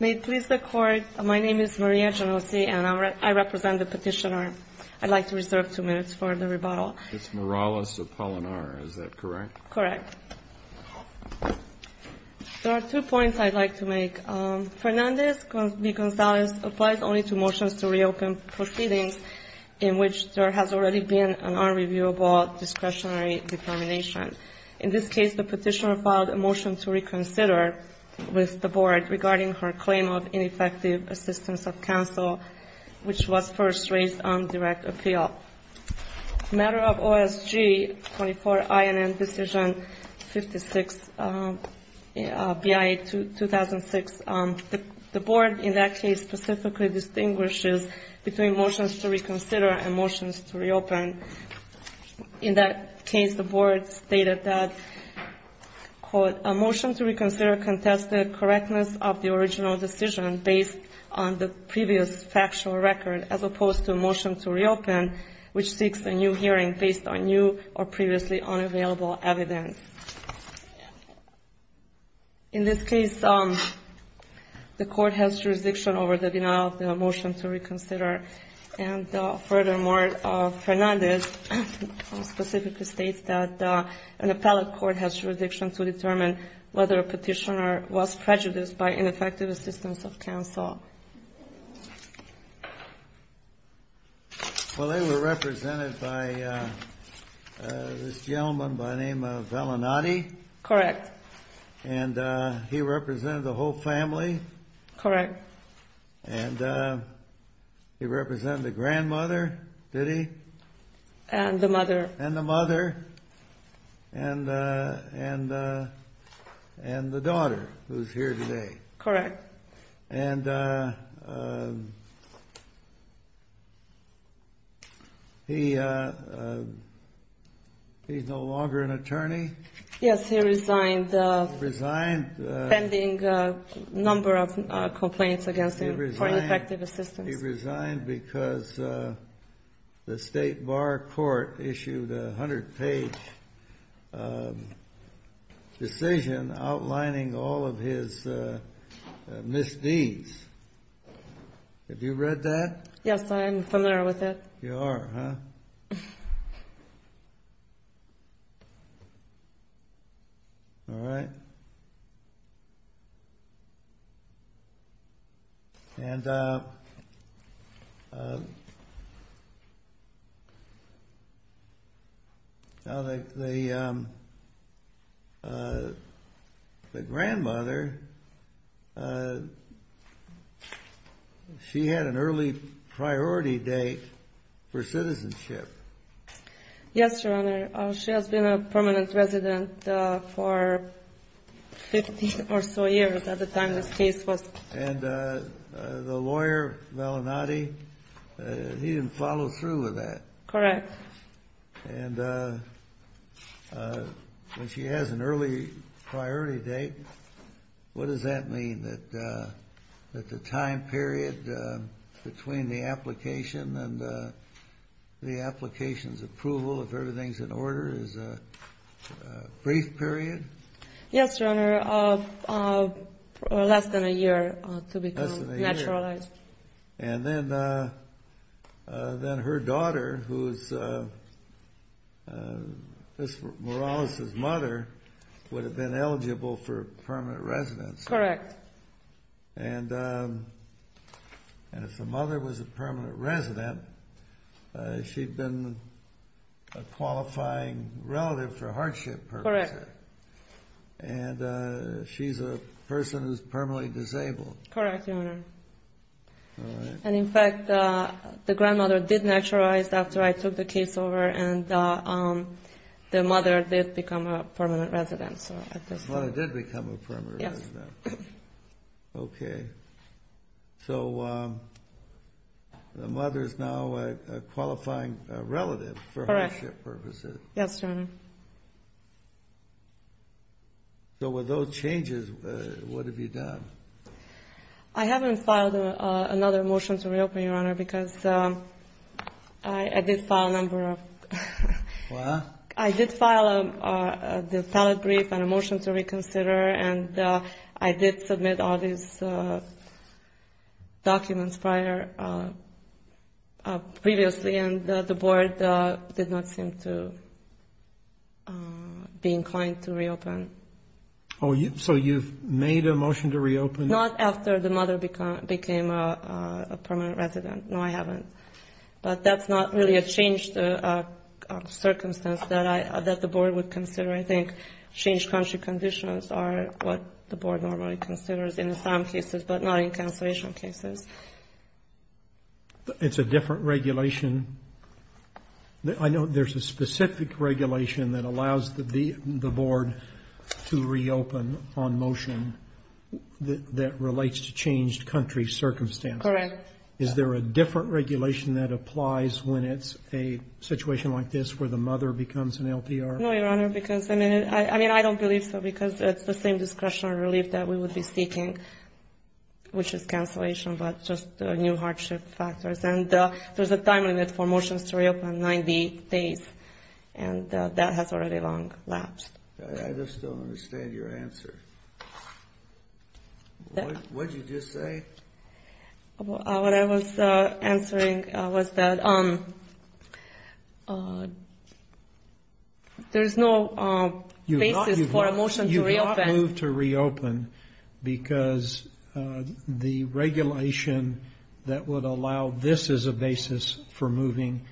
May it please the Court, my name is Maria Genovese, and I represent the petitioner. I'd like to reserve two minutes for the rebuttal. It's Morales Apolinar. Is that correct? Correct. There are two points I'd like to make. Fernandez v. Gonzalez applies only to motions to reopen proceedings in which there has already been an unreviewable discretionary determination. In this case, the petitioner filed a motion to reconsider with the Board regarding her claim of ineffective assistance of counsel, which was first raised on direct appeal. Matter of OSG 24INN Decision 56, BIA 2006, the Board in that case specifically distinguishes between motions to reconsider and motions to reopen. And in that case, the Board stated that, quote, a motion to reconsider contested correctness of the original decision based on the previous factual record, as opposed to a motion to reopen, which seeks a new hearing based on new or previously unavailable evidence. In this case, the Court has jurisdiction over the denial of the motion to reconsider. And furthermore, Fernandez specifically states that an appellate court has jurisdiction to determine whether a petitioner was prejudiced by ineffective assistance of counsel. Well, they were represented by this gentleman by the name of Vellinati. Correct. And he represented the whole family. Correct. And he represented the grandmother, did he? And the mother. And the mother. And the daughter, who's here today. Correct. And he's no longer an attorney? Yes, he resigned. Resigned. Pending a number of complaints against him for ineffective assistance. He resigned because the State Bar Court issued a 100-page decision outlining all of his misdeeds. Have you read that? Yes, I am familiar with it. You are, huh? All right. And the grandmother, she had an early priority date for citizenship. Yes, Your Honor. She has been a permanent resident for 15 or so years at the time this case was. And the lawyer, Vellinati, he didn't follow through with that? Correct. And when she has an early priority date, what does that mean? That the time period between the application and the application's approval, if everything's in order, is a brief period? Yes, Your Honor, less than a year to become naturalized. And then her daughter, who is Ms. Morales' mother, would have been eligible for permanent residence. Correct. And if the mother was a permanent resident, she'd been a qualifying relative for hardship purposes. Correct. And she's a person who's permanently disabled. Correct, Your Honor. All right. And, in fact, the grandmother did naturalize after I took the case over, and the mother did become a permanent resident. The mother did become a permanent resident. Yes. Okay. So the mother is now a qualifying relative for hardship purposes. Correct. Yes, Your Honor. So with those changes, what have you done? I haven't filed another motion to reopen, Your Honor, because I did file a number of them. What? I did file a brief and a motion to reconsider, and I did submit all these documents prior previously, and the Board did not seem to be inclined to reopen. So you've made a motion to reopen? Not after the mother became a permanent resident. No, I haven't. But that's not really a changed circumstance that the Board would consider. I think changed country conditions are what the Board normally considers in some cases, but not in cancellation cases. It's a different regulation. I know there's a specific regulation that allows the Board to reopen on motion that relates to changed country circumstances. Correct. Is there a different regulation that applies when it's a situation like this where the mother becomes an LPR? No, Your Honor, because, I mean, I don't believe so, because it's the same discretionary relief that we would be seeking, which is cancellation, but just new hardship factors. And there's a time limit for motions to reopen, 90 days, and that has already long lapsed. I just don't understand your answer. What did you just say? What I was answering was that there is no basis for a motion to reopen. Because the regulation that would allow this as a basis for moving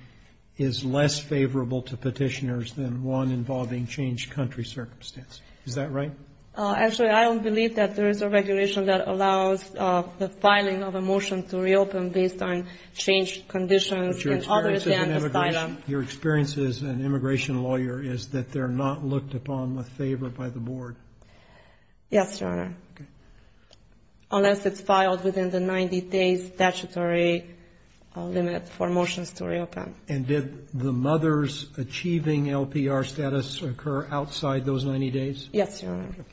is less favorable to petitioners than one involving changed country circumstances. Is that right? Actually, I don't believe that there is a regulation that allows the filing of a motion to reopen based on changed conditions. Your experience as an immigration lawyer is that they're not looked upon with favor by the Board? Yes, Your Honor, unless it's filed within the 90 days statutory limit for motions to reopen. And did the mother's achieving LPR status occur outside those 90 days? Yes, Your Honor. Thank you.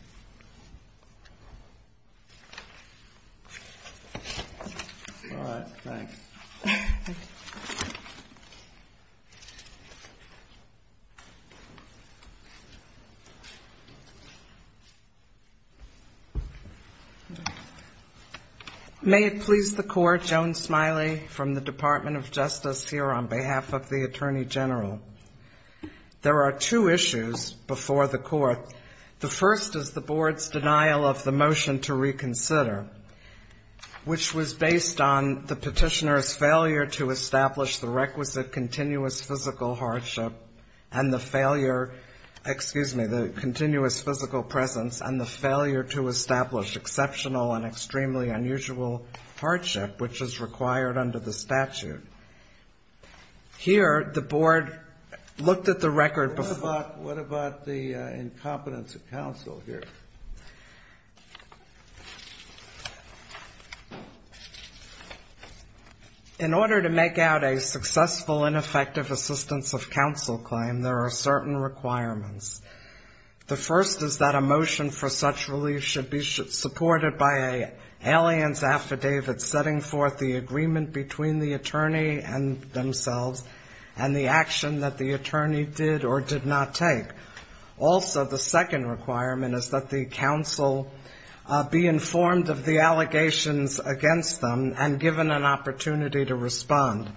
All right. Thanks. May it please the Court, Joan Smiley from the Department of Justice here on behalf of the Attorney General. There are two issues before the Court. The first is the Board's denial of the motion to reconsider, which was based on the petitioner's failure to establish the requisite continuous physical hardship and the failure, excuse me, the continuous physical presence and the failure to establish exceptional and extremely unusual hardship, which is required under the statute. Here, the Board looked at the record before. What about the incompetence of counsel here? In order to make out a successful and effective assistance of counsel claim, there are certain requirements. The first is that a motion for such relief should be supported by an alien's affidavit setting forth the agreement between the attorney and themselves and the action that the attorney did or did not take. Also, the second requirement is that the counsel be informed of the allegations against them and given an opportunity to respond.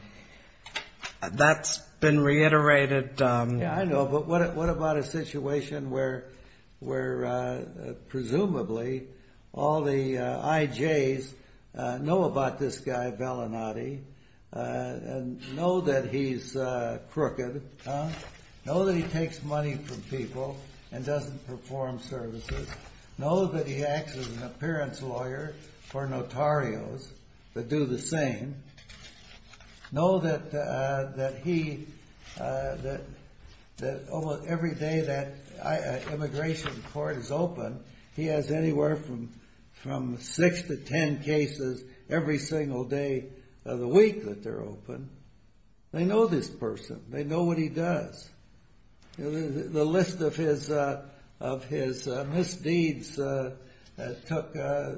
That's been reiterated. I know, but what about a situation where presumably all the IJs know about this guy, Vellinati, and know that he's crooked, know that he takes money from people and doesn't perform services, know that he acts as an appearance lawyer for notarios that do the same, know that almost every day that an immigration court is open, he has anywhere from six to ten cases every single day of the week that they're open. They know this person. They know what he does. The list of his misdeeds took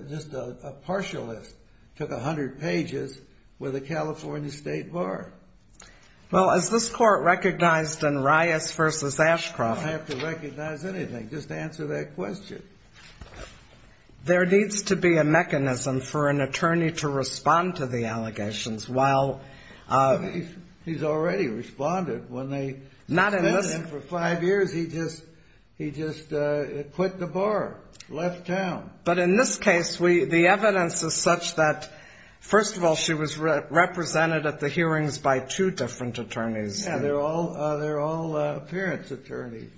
just a partial list, took 100 pages with a California state bar. Well, as this Court recognized in Rias v. Ashcroft. I have to recognize anything. Just answer that question. There needs to be a mechanism for an attorney to respond to the allegations while. He's already responded. When they sent him for five years, he just quit the bar, left town. But in this case, the evidence is such that, first of all, she was represented at the hearings by two different attorneys. Yeah, they're all appearance attorneys.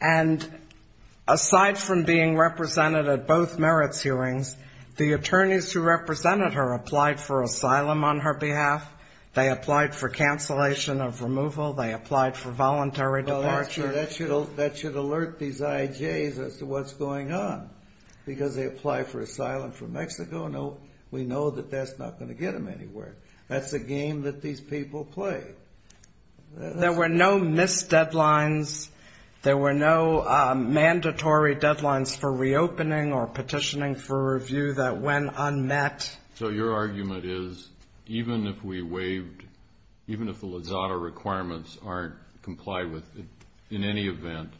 And aside from being represented at both merits hearings, the attorneys who represented her applied for asylum on her behalf. They applied for cancellation of removal. They applied for voluntary departure. Well, that should alert these IJs as to what's going on, because they apply for asylum from Mexico. We know that that's not going to get them anywhere. That's a game that these people play. There were no missed deadlines. There were no mandatory deadlines for reopening or petitioning for review that went unmet. So your argument is even if we waived, even if the Lizada requirements aren't complied with, in any event,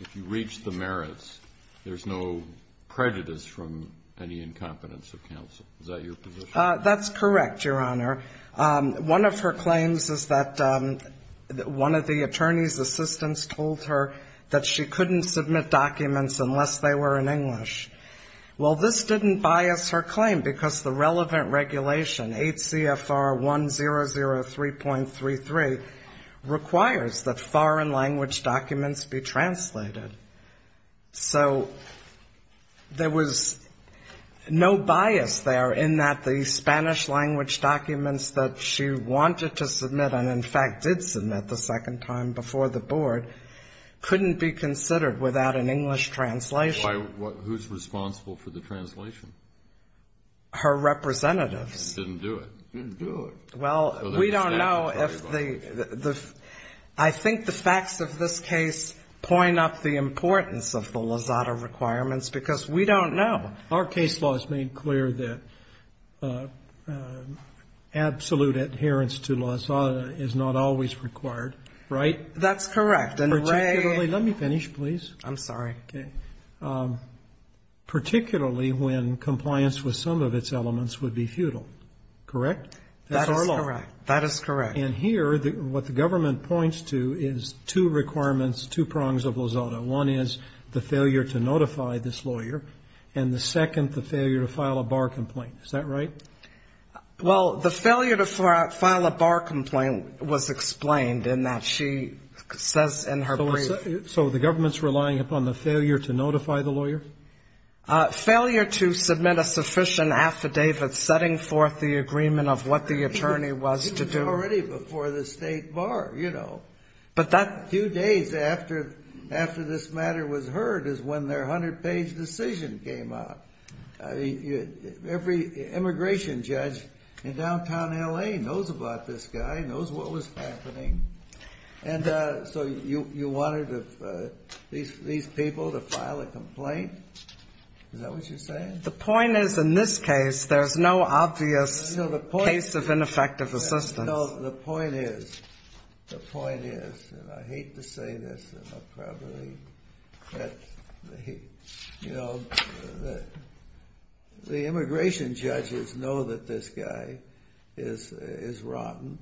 if you reach the merits, there's no prejudice from any incompetence of counsel. Is that your position? That's correct, Your Honor. One of her claims is that one of the attorney's assistants told her that she couldn't submit documents unless they were in English. Well, this didn't bias her claim because the relevant regulation, 8 CFR 1003.33, requires that foreign language documents be translated. So there was no bias there in that the Spanish language documents that she wanted to submit and, in fact, did submit the second time before the Board couldn't be considered without an English translation. Who's responsible for the translation? Her representatives. Didn't do it. Didn't do it. Well, we don't know if the, I think the facts of this case point up the importance of the Lizada requirements because we don't know. Our case law has made clear that absolute adherence to Lizada is not always required, right? That's correct. Particularly, let me finish, please. I'm sorry. Particularly when compliance with some of its elements would be futile, correct? That is correct. That is correct. And here, what the government points to is two requirements, two prongs of Lizada. One is the failure to notify this lawyer, and the second, the failure to file a bar complaint. Is that right? Well, the failure to file a bar complaint was explained in that she says in her brief. So the government's relying upon the failure to notify the lawyer? Failure to submit a sufficient affidavit setting forth the agreement of what the attorney was to do. It was already before the state bar, you know. But that few days after this matter was heard is when their 100-page decision came out. Every immigration judge in downtown L.A. knows about this guy, knows what was happening. And so you wanted these people to file a complaint? Is that what you're saying? The point is, in this case, there's no obvious case of ineffective assistance. No, the point is, the point is, and I hate to say this, and I'll probably get the heat. You know, the immigration judges know that this guy is rotten.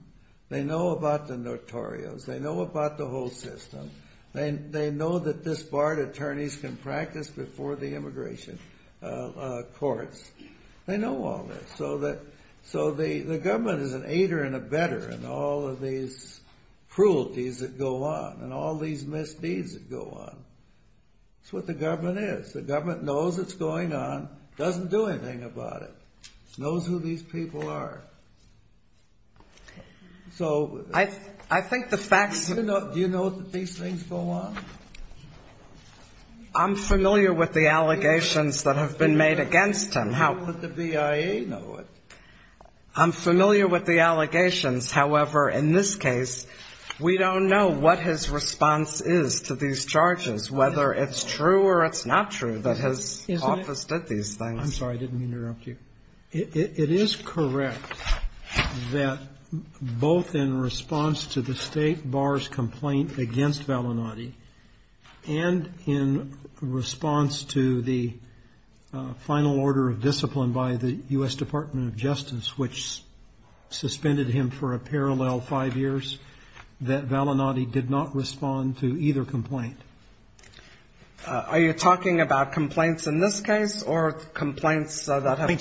They know about the notorios. They know about the whole system. They know that this barred attorneys can practice before the immigration courts. They know all this. So the government is an aider and a better in all of these cruelties that go on and all these misdeeds that go on. That's what the government is. The government knows what's going on, doesn't do anything about it. Knows who these people are. So do you know that these things go on? I'm familiar with the allegations that have been made against him. How could the BIA know it? I'm familiar with the allegations. However, in this case, we don't know what his response is to these charges, whether it's true or it's not true that his office did these things. I'm sorry. I didn't interrupt you. It is correct that both in response to the state bar's complaint against Valinati, and in response to the final order of discipline by the U.S. Department of Justice, which suspended him for a parallel five years, that Valinati did not respond to either complaint. Are you talking about complaints in this case or complaints that have been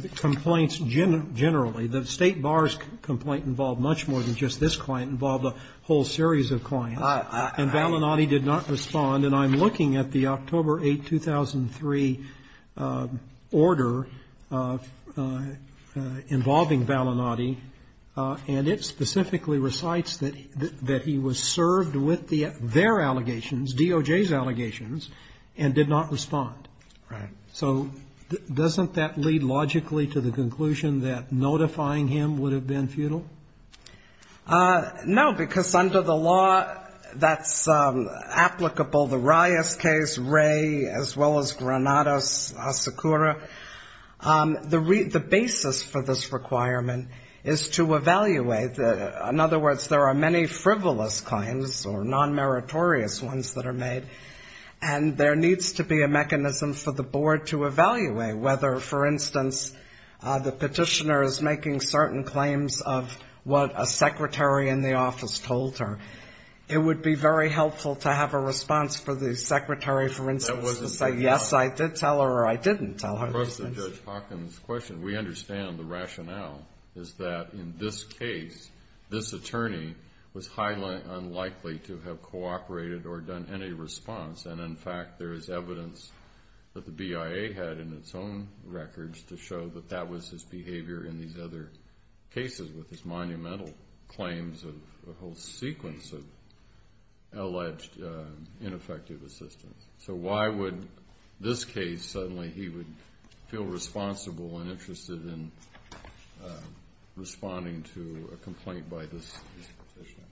made? Complaints generally. The state bar's complaint involved much more than just this client. It involved a whole series of clients. And Valinati did not respond. And I'm looking at the October 8, 2003 order involving Valinati, and it specifically recites that he was served with their allegations, DOJ's allegations, and did not respond. Right. So doesn't that lead logically to the conclusion that notifying him would have been futile? No, because under the law that's applicable, the Rias case, Ray, as well as Granados, Asakura, the basis for this requirement is to evaluate. In other words, there are many frivolous claims or non-meritorious ones that are made, and there needs to be a mechanism for the board to evaluate whether, for instance, the petitioner is making certain claims of what a secretary in the office told her. It would be very helpful to have a response for the secretary, for instance, to say, yes, I did tell her or I didn't tell her those things. Of course, to Judge Hawkins' question, we understand the rationale is that in this case, this attorney was highly unlikely to have cooperated or done any response. And, in fact, there is evidence that the BIA had in its own records to show that that was his behavior in these other cases with his monumental claims of a whole sequence of alleged ineffective assistance. So why would this case suddenly he would feel responsible and interested in responding to a complaint by this petitioner?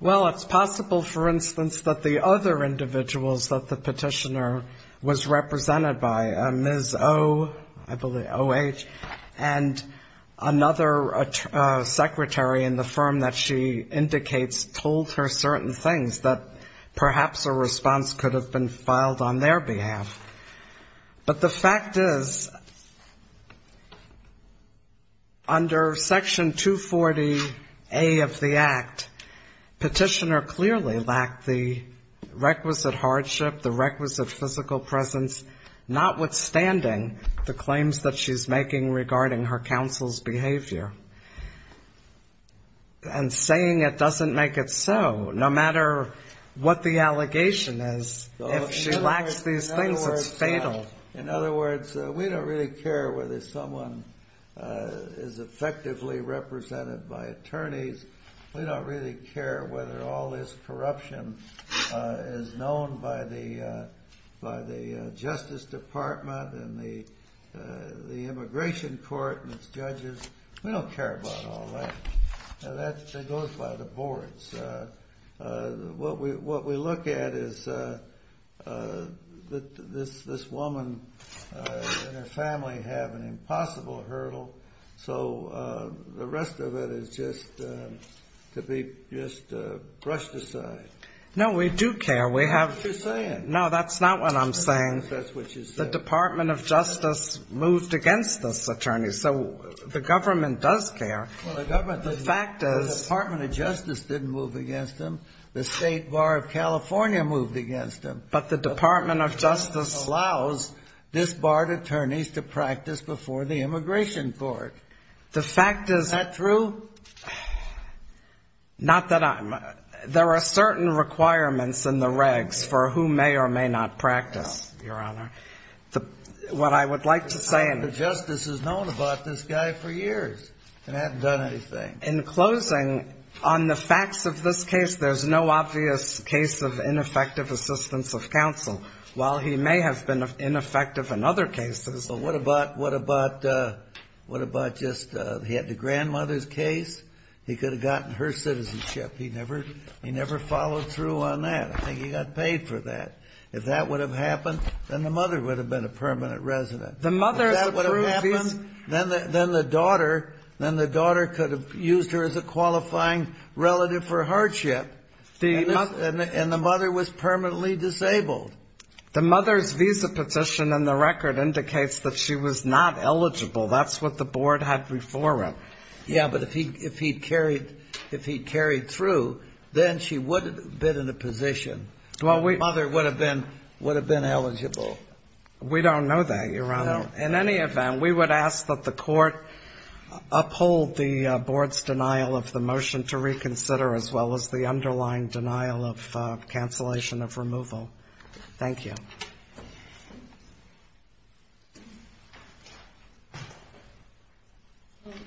Well, it's possible, for instance, that the other individuals that the petitioner was represented by, Ms. O, I believe, O-H, and another secretary in the firm that she indicates told her certain things that perhaps a response could have been filed on their behalf. But the fact is, under Section 240A of the Act, petitioner clearly lacked the requisite hardship, the requisite physical presence, notwithstanding the claims that she's making regarding her counsel's behavior. And saying it doesn't make it so, no matter what the allegation is. If she lacks these things, it's fatal. In other words, we don't really care whether someone is effectively represented by attorneys. We don't really care whether all this corruption is known by the Justice Department and the immigration court and its judges. We don't care about all that. That goes by the boards. What we look at is this woman and her family have an impossible hurdle, so the rest of it is just to be brushed aside. No, we do care. That's what you're saying. No, that's not what I'm saying. That's what you're saying. The Department of Justice moved against this attorney, so the government does care. Well, the Department of Justice didn't move against him. The State Bar of California moved against him. But the Department of Justice allows this bar of attorneys to practice before the immigration court. Is that true? Not that I'm — there are certain requirements in the regs for who may or may not practice. Your Honor, what I would like to say — The Justice has known about this guy for years and hasn't done anything. In closing, on the facts of this case, there's no obvious case of ineffective assistance of counsel. While he may have been ineffective in other cases — Well, what about, what about, what about just he had the grandmother's case? He could have gotten her citizenship. He never followed through on that. I think he got paid for that. If that would have happened, then the mother would have been a permanent resident. If that would have happened, then the daughter could have used her as a qualifying relative for hardship. And the mother was permanently disabled. The mother's visa position in the record indicates that she was not eligible. That's what the board had before him. Yeah, but if he carried through, then she would have been in a position. The mother would have been eligible. We don't know that, Your Honor. In any event, we would ask that the court uphold the board's denial of the motion to reconsider, as well as the underlying denial of cancellation of removal. Thank you.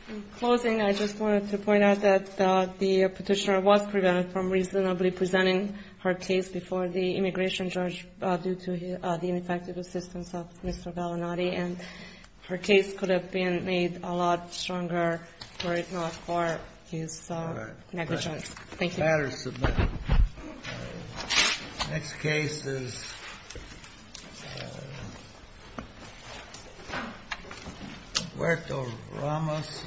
In closing, I just wanted to point out that the Petitioner was prevented from reasonably presenting her case before the immigration judge due to the ineffective assistance of Mr. Vallinati, and her case could have been made a lot stronger were it not for his negligence. Thank you. The matter is submitted. The next case is Huerto Ramos v. Gonzalez.